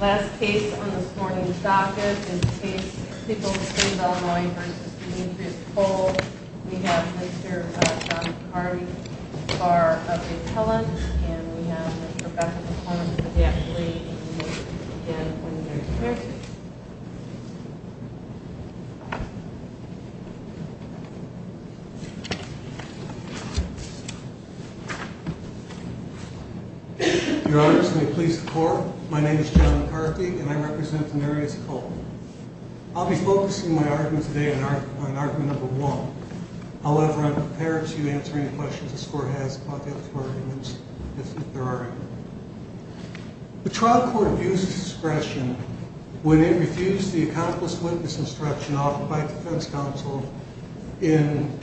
Last case on this morning's docket is the case of people in the city of Illinois v. Demetrius Cole. We have Mr. John Harvey, Bar of Appellant, and we have Mr. Bethel McCormick, Adaptee. Your honors, may it please the court, my name is John McCarthy and I represent Demetrius Cole. I'll be focusing my argument today on argument number one. However, I'm prepared to answer any questions this court has about the other four arguments if there are any. The trial court views discretion when it refused the accomplice witness instruction offered by the defense counsel in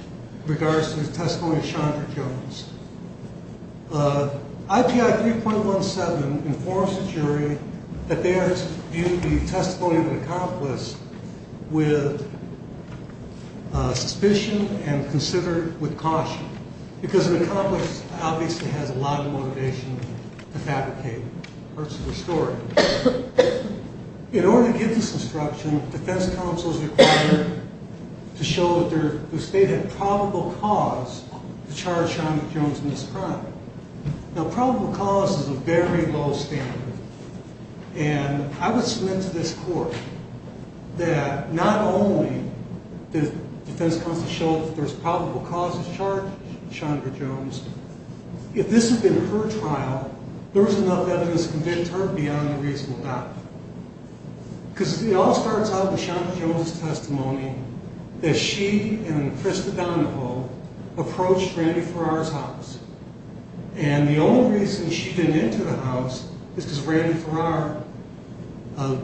regards to the testimony of Chandra Jones. IPI 3.17 informs the jury that they are to view the testimony of an accomplice with suspicion and considered with caution. In order to give this instruction, defense counsel is required to show that the state had probable cause to charge Chandra Jones in this crime. Now probable cause is a very low standard, and I would submit to this court that not only does defense counsel show that there's probable cause to charge Chandra Jones, if this had been her trial, there was enough evidence to convince her beyond a reasonable doubt. Because it all starts out with Chandra Jones' testimony that she and Krista Donahoe approached Randy Farrar's house. And the only reason she didn't enter the house is because Randy Farrar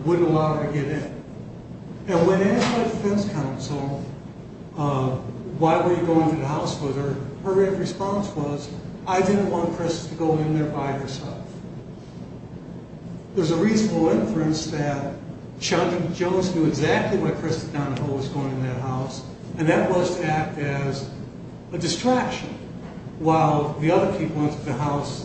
wouldn't allow her to get in. And when asked by defense counsel, why were you going to the house with her, her response was, I didn't want Krista to go in there by herself. There's a reasonable inference that Chandra Jones knew exactly why Krista Donahoe was going in that house, and that was to act as a distraction while the other people entered the house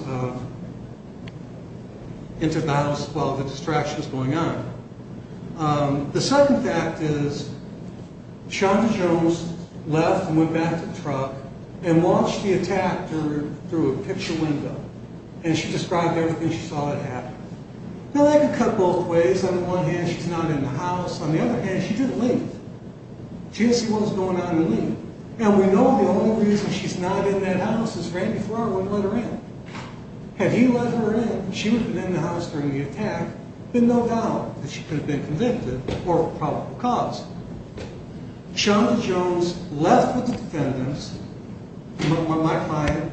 while the distraction was going on. The second fact is, Chandra Jones left and went back to the truck and watched the attack through a picture window. And she described everything she saw that happened. Now that could cut both ways. On the one hand, she's not in the house. On the other hand, she didn't leave. She didn't see what was going on and leave. And we know the only reason she's not in that house is Randy Farrar wouldn't let her in. Had he let her in, she would have been in the house during the attack, then no doubt that she could have been convicted or probable cause. Chandra Jones left with the defendants, my client,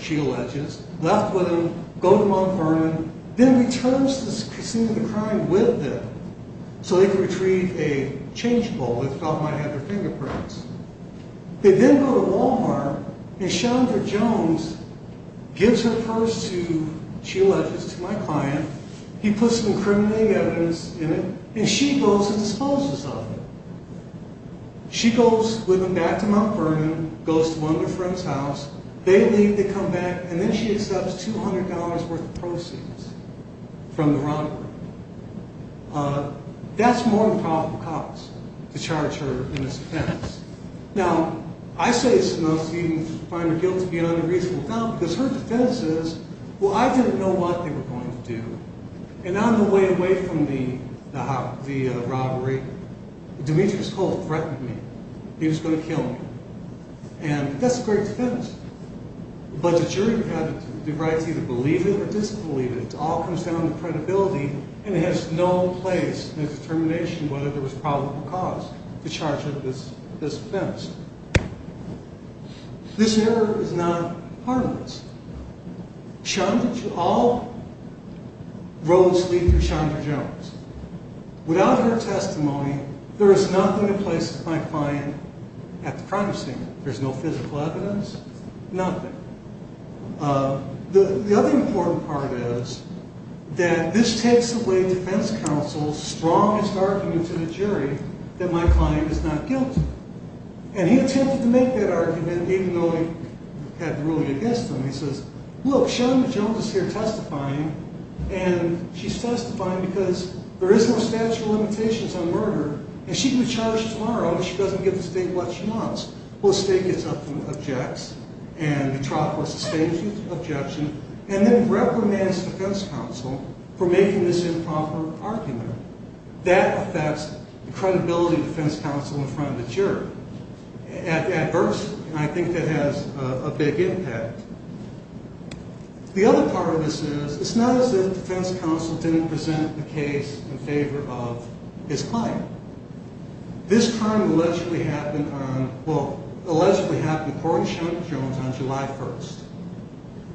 she alleges, left with them, go to Mount Vernon, then returns to the scene of the crime with them, so they could retrieve a change bowl. They thought they might have their fingerprints. They then go to Walmart and Chandra Jones gives her purse to, she alleges, to my client. He puts some incriminating evidence in it, and she goes and disposes of it. She goes with them back to Mount Vernon, goes to one of their friends' house, they leave, they come back, and then she accepts $200 worth of proceeds from the robbery. That's more than probable cause to charge her in this offense. Now, I say it's enough to even find her guilty beyond a reasonable doubt because her defense is, well, I didn't know what they were going to do, and on the way away from the robbery, Demetrius Cole threatened me. He was going to kill me, and that's a great defense, but the jury had the right to either believe it or disbelieve it. It all comes down to credibility, and it has no place in the determination whether there was probable cause to charge her this offense. This error is not harmless. All roads lead through Chandra Jones. Without her testimony, there is nothing that places my client at the crime scene. There's no physical evidence, nothing. The other important part is that this takes away defense counsel's strongest argument to the jury that my client is not guilty, and he attempted to make that argument even though he had the ruling against him. He says, look, Chandra Jones is here testifying, and she's testifying because there is no statute of limitations on murder, and she can be charged tomorrow if she doesn't give the state what she wants. Well, the state gets up and objects, and Metropolis, the state, gives the objection, and then reprimands defense counsel for making this improper argument. That affects the credibility of defense counsel in front of the jury. At first, I think that has a big impact. The other part of this is it's not as if defense counsel didn't present the case in favor of his client. This crime allegedly happened on, well, allegedly happened to Corey Chandra Jones on July 1st.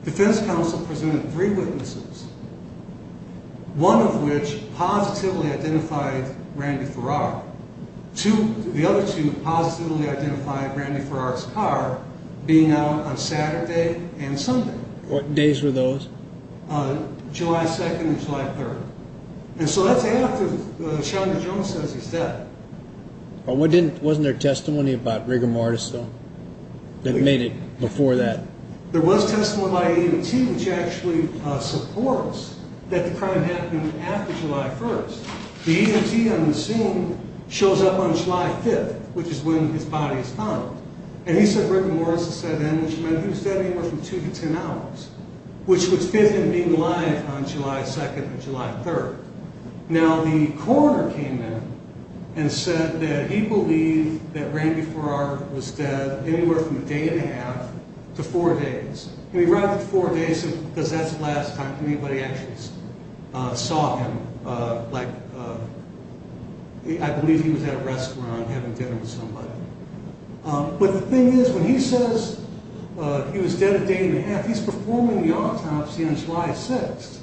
Defense counsel presented three witnesses, one of which positively identified Randy Farrar. The other two positively identified Randy Farrar's car being out on Saturday and Sunday. What days were those? July 2nd and July 3rd. And so that's after Chandra Jones says he's dead. Wasn't there testimony about Rigor Mortis, though, that made it before that? There was testimony by E&T, which actually supports that the crime happened after July 1st. The E&T on the scene shows up on July 5th, which is when his body is found, and he said Rigor Mortis is dead then, which meant he was dead anywhere from 2 to 10 hours, which would fit him being alive on July 2nd or July 3rd. Now, the coroner came in and said that he believed that Randy Farrar was dead anywhere from a day and a half to four days. He arrived at four days because that's the last time anybody actually saw him. Like, I believe he was at a restaurant having dinner with somebody. But the thing is, when he says he was dead a day and a half, he's performing the autopsy on July 6th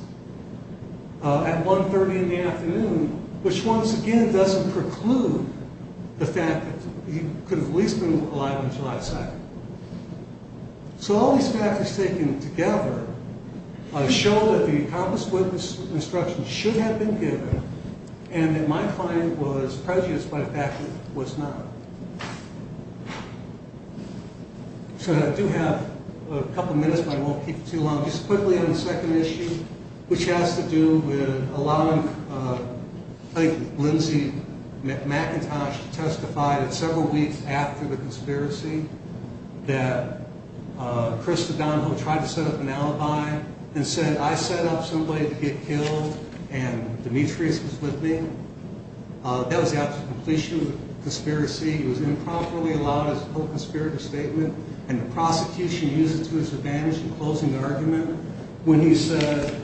at 1.30 in the afternoon, which once again doesn't preclude the fact that he could have at least been alive on July 2nd. So all these factors taken together show that the accomplished witness instruction should have been given and that my client was prejudiced by the fact that he was not. So I do have a couple minutes, but I won't keep it too long. Just quickly on the second issue, which has to do with allowing Lindsay McIntosh to testify that several weeks after the conspiracy, that Chris O'Donnell tried to set up an alibi and said, I set up somebody to get killed and Demetrius was with me. That was after completion of the conspiracy. It was improperly allowed as a conspiracy statement and the prosecution used it to its advantage in closing the argument when he said,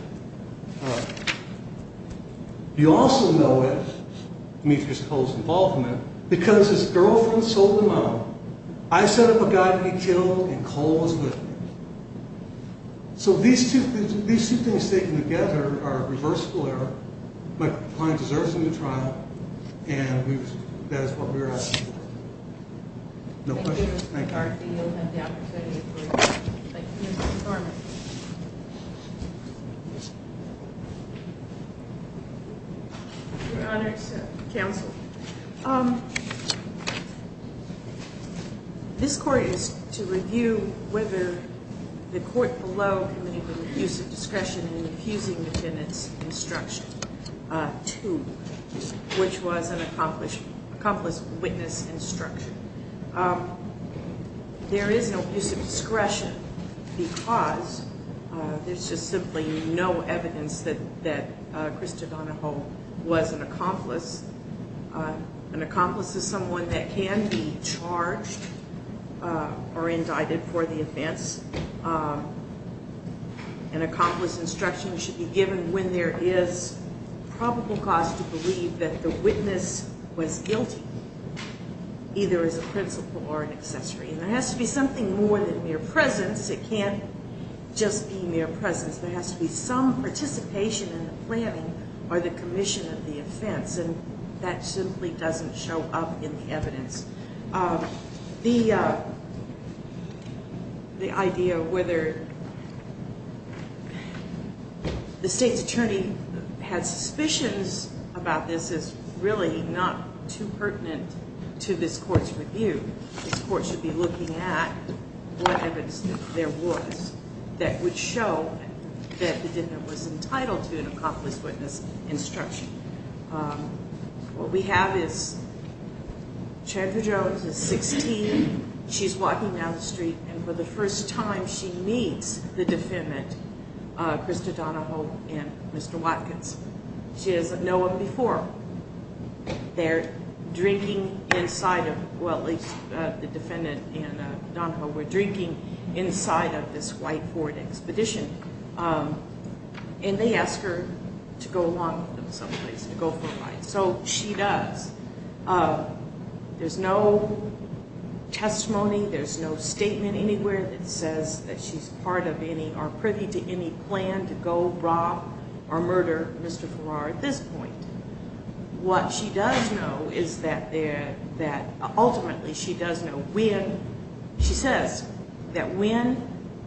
you also know it, Demetrius Cole's involvement, because his girlfriend sold him out. I set up a guy to be killed and Cole was with me. So these two things taken together are a reversible error. My client deserves a new trial and that is what we are asking for. No questions. Thank you. Thank you, Mr. McCarthy. You'll have the opportunity to brief Ms. McCormick. Your Honor, counsel. This court is to review whether the court below committed an abuse of discretion in refusing the defendant's instruction to, which was an accomplice witness instruction. There is no abuse of discretion because there's just simply no evidence that Chris DeDonahoe was an accomplice. An accomplice is someone that can be charged or indicted for the offense. An accomplice instruction should be given when there is probable cause to believe that the witness was guilty, either as a principal or an accessory. And there has to be something more than mere presence. It can't just be mere presence. There has to be some participation in the planning or the commission of the offense. And that simply doesn't show up in the evidence. The idea of whether the state's attorney has suspicions about this is really not too pertinent to this court's review. This court should be looking at what evidence there was that would show that the defendant was entitled to an accomplice witness instruction. What we have is Chadra Jones is 16. She's walking down the street, and for the first time she meets the defendant, Chris DeDonahoe and Mr. Watkins. She doesn't know him before. They're drinking inside of, well, at least the defendant and DeDonahoe were drinking inside of this whiteboard expedition. And they ask her to go along with them someplace, to go for a ride. So she does. There's no testimony, there's no statement anywhere that says that she's part of any or privy to any plan to go rob or murder Mr. Farrar at this point. What she does know is that ultimately she does know when, she says that when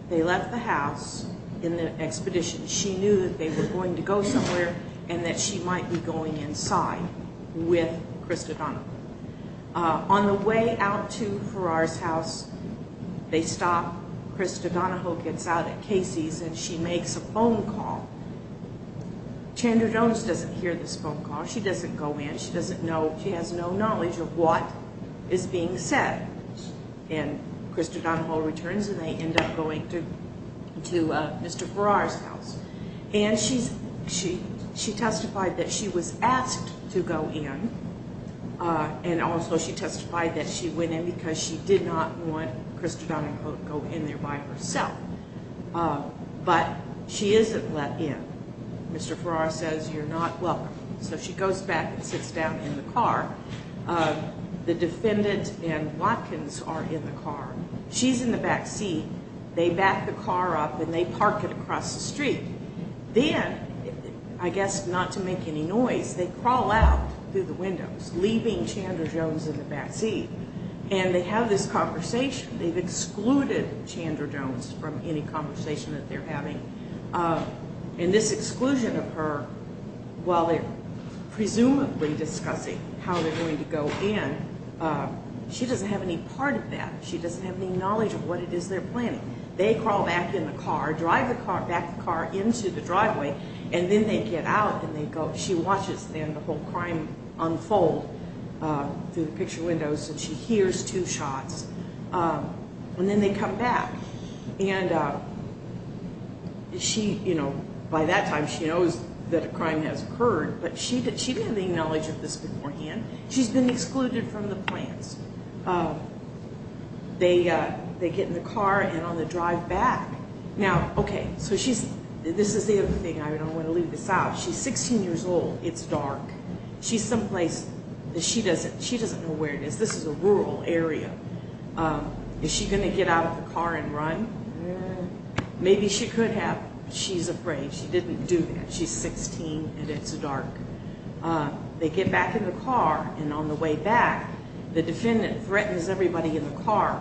they left the house in the expedition, she knew that they were going to go somewhere and that she might be going inside with Chris DeDonahoe. On the way out to Farrar's house, they stop. Chris DeDonahoe gets out at Casey's and she makes a phone call. Chandra Jones doesn't hear this phone call. She doesn't go in. She doesn't know, she has no knowledge of what is being said. And Chris DeDonahoe returns and they end up going to Mr. Farrar's house. And she testified that she was asked to go in, and also she testified that she went in because she did not want Chris DeDonahoe to go in there by herself. But she isn't let in. Mr. Farrar says you're not welcome. So she goes back and sits down in the car. The defendant and Watkins are in the car. She's in the back seat. They back the car up and they park it across the street. Then, I guess not to make any noise, they crawl out through the windows, leaving Chandra Jones in the back seat. And they have this conversation. They've excluded Chandra Jones from any conversation that they're having. And this exclusion of her, while they're presumably discussing how they're going to go in, she doesn't have any part of that. She doesn't have any knowledge of what it is they're planning. They crawl back in the car, drive back the car into the driveway, and then they get out. She watches the whole crime unfold through the picture windows, and she hears two shots. And then they come back. And by that time, she knows that a crime has occurred, but she didn't have any knowledge of this beforehand. She's been excluded from the plans. They get in the car and on the drive back. Now, okay, so this is the other thing. I don't want to leave this out. She's 16 years old. It's dark. She's someplace that she doesn't know where it is. This is a rural area. Is she going to get out of the car and run? Maybe she could have. She's afraid. She didn't do that. She's 16, and it's dark. They get back in the car, and on the way back, the defendant threatens everybody in the car.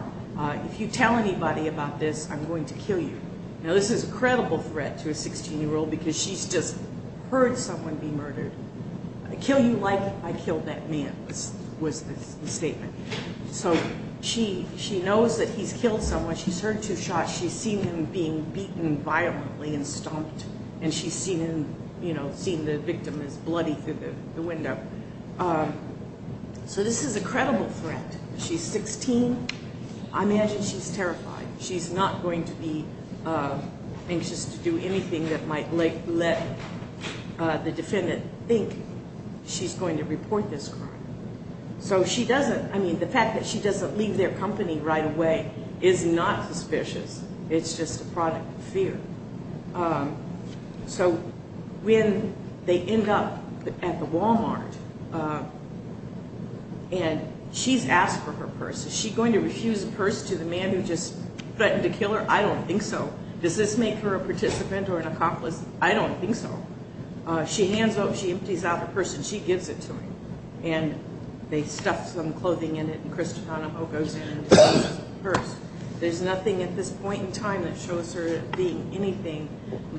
If you tell anybody about this, I'm going to kill you. Now, this is a credible threat to a 16-year-old because she's just heard someone be murdered. I kill you like I killed that man was the statement. So she knows that he's killed someone. She's heard two shots. She's seen him being beaten violently and stomped, and she's seen him, you know, seen the victim as bloody through the window. So this is a credible threat. She's 16. I imagine she's terrified. She's not going to be anxious to do anything that might let the defendant think she's going to report this crime. So she doesn't. I mean, the fact that she doesn't leave their company right away is not suspicious. It's just a product of fear. So when they end up at the Walmart and she's asked for her purse, is she going to refuse the purse to the man who just threatened to kill her? I don't think so. Does this make her a participant or an accomplice? I don't think so. She hands over, she empties out the purse, and she gives it to him. And they stuff some clothing in it, and Christiana Ho goes in and takes the purse. There's nothing at this point in time that shows her being anything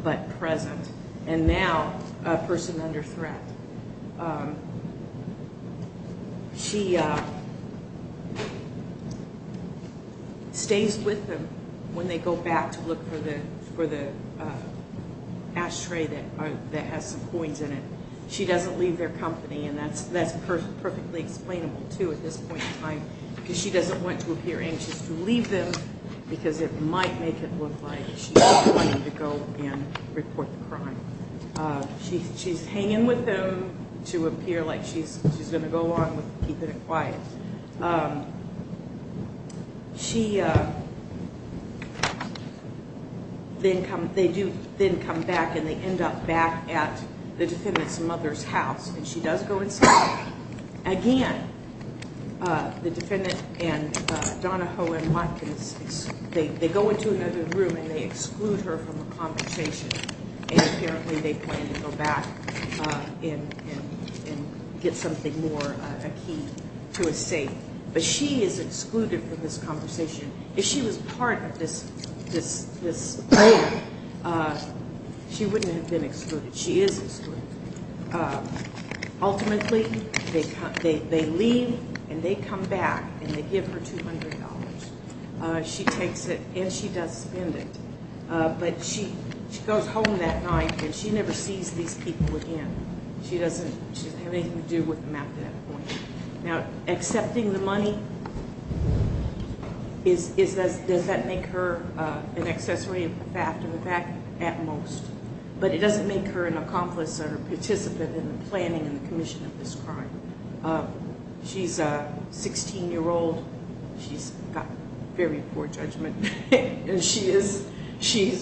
but present, and now a person under threat. She stays with them when they go back to look for the ashtray that has some coins in it. She doesn't leave their company, and that's perfectly explainable, too, at this point in time, because she doesn't want to appear anxious to leave them because it might make it look like she's going to go and report the crime. She's hanging with them to appear like she's going to go along with keeping it quiet. They do then come back, and they end up back at the defendant's mother's house, and she does go inside. Again, the defendant and Donna Ho and Watkins, they go into another room, and they exclude her from the conversation, and apparently they plan to go back and get something more, a key to a safe. But she is excluded from this conversation. If she was part of this plan, she wouldn't have been excluded. She is excluded. Ultimately, they leave, and they come back, and they give her $200. She takes it, and she does spend it. But she goes home that night, and she never sees these people again. She doesn't have anything to do with them at that point. Now, accepting the money, does that make her an accessory after the fact at most? But it doesn't make her an accomplice or a participant in the planning and the commission of this crime. She's a 16-year-old. She's got very poor judgment, and she's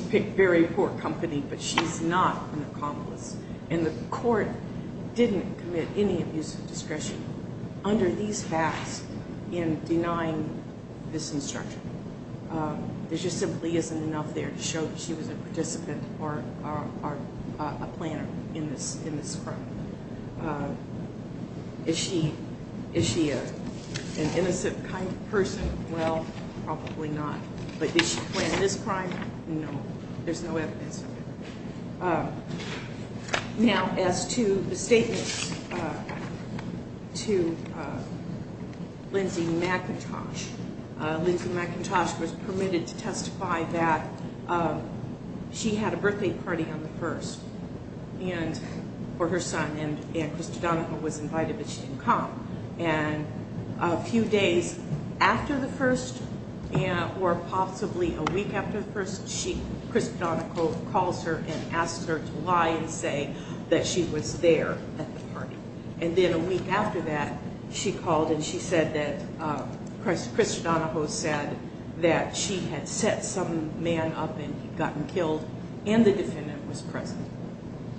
picked very poor company, but she's not an accomplice. And the court didn't commit any abuse of discretion under these facts in denying this instruction. There just simply isn't enough there to show that she was a participant or a planner in this crime. Is she an innocent kind of person? Well, probably not. But did she plan this crime? No. There's no evidence of it. Now, as to the statement to Lindsey McIntosh. Lindsey McIntosh was permitted to testify that she had a birthday party on the 1st for her son, and Christodonico was invited, but she didn't come. And a few days after the 1st, or possibly a week after the 1st, Christodonico calls her and asks her to lie and say that she was there at the party. And then a week after that, she called and she said that, Christodonico said that she had set some man up and gotten killed, and the defendant was present.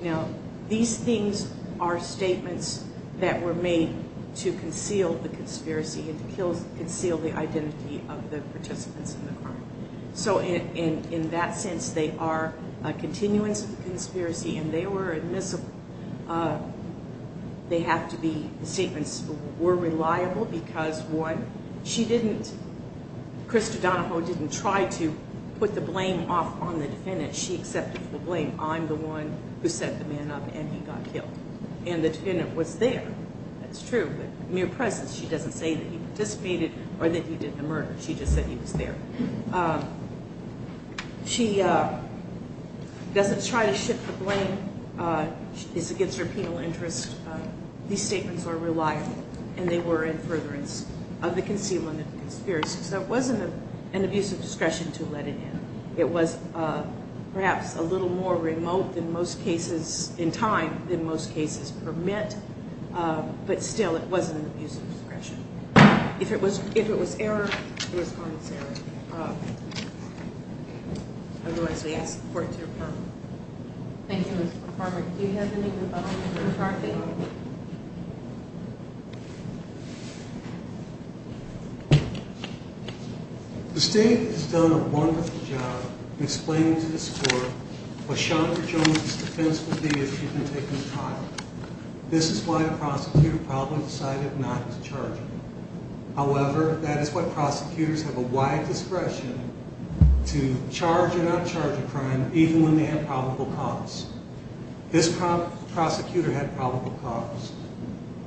Now, these things are statements that were made to conceal the conspiracy and to conceal the identity of the participants in the crime. So in that sense, they are continuance of the conspiracy, and they were admissible. They have to be statements that were reliable because, one, she didn't, Christodonico didn't try to put the blame off on the defendant. She accepted the blame. I'm the one who set the man up and he got killed. And the defendant was there. That's true, but mere presence. She doesn't say that he participated or that he did the murder. She just said he was there. She doesn't try to shift the blame. It's against her penal interest. These statements are reliable, and they were in furtherance of the concealment of the conspiracy. So it wasn't an abuse of discretion to let it in. It was perhaps a little more remote in most cases in time than most cases permit, but still it wasn't an abuse of discretion. If it was error, it was harmless error. Otherwise, we ask support to your partner. Thank you, Mr. Farmer. Do you have anything to add? The state has done a wonderful job in explaining to this court what Chandra Jones' defense would be if she'd been taken to trial. This is why the prosecutor probably decided not to charge her. However, that is why prosecutors have a wide discretion to charge or not charge a crime even when they have probable cause. This prosecutor had probable cause.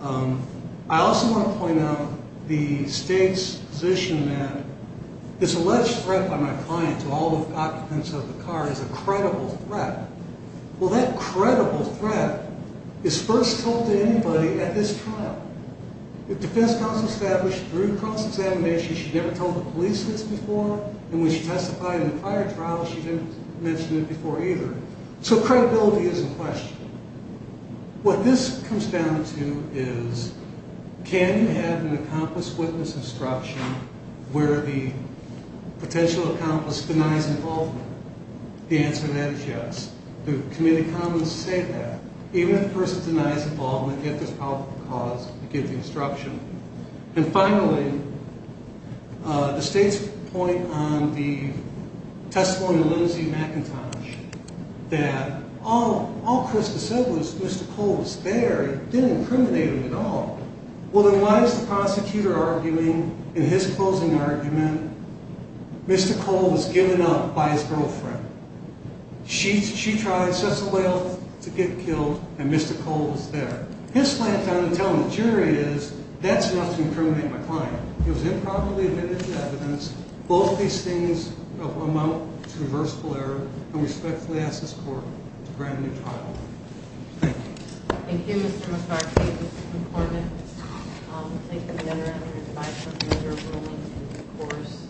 I also want to point out the state's position that this alleged threat by my client to all the occupants of the car is a credible threat. Well, that credible threat is first told to anybody at this trial. The defense counsel established through cross-examination she'd never told the police this before, and when she testified in the prior trial, she didn't mention it before either. So credibility is in question. What this comes down to is can you have an accomplice witness instruction where the potential accomplice denies involvement? The answer to that is yes. The Committee of Commons say that. Even if the person denies involvement, yet there's probable cause, you give the instruction. And finally, the state's point on the testimony of Lindsey McIntosh that all Chris had said was Mr. Cole was there. He didn't incriminate him at all. Well, then why is the prosecutor arguing in his closing argument Mr. Cole was given up by his girlfriend? She tried such a way to get killed, and Mr. Cole was there. His plan found to tell the jury is that's enough to incriminate my client. It was improperly admitted to evidence. Both these things amount to reversible error, and we respectfully ask this Court to grant a new trial. Thank you. Thank you, Mr. McCarthy. This is important. Thank you again for your time and your role in the course.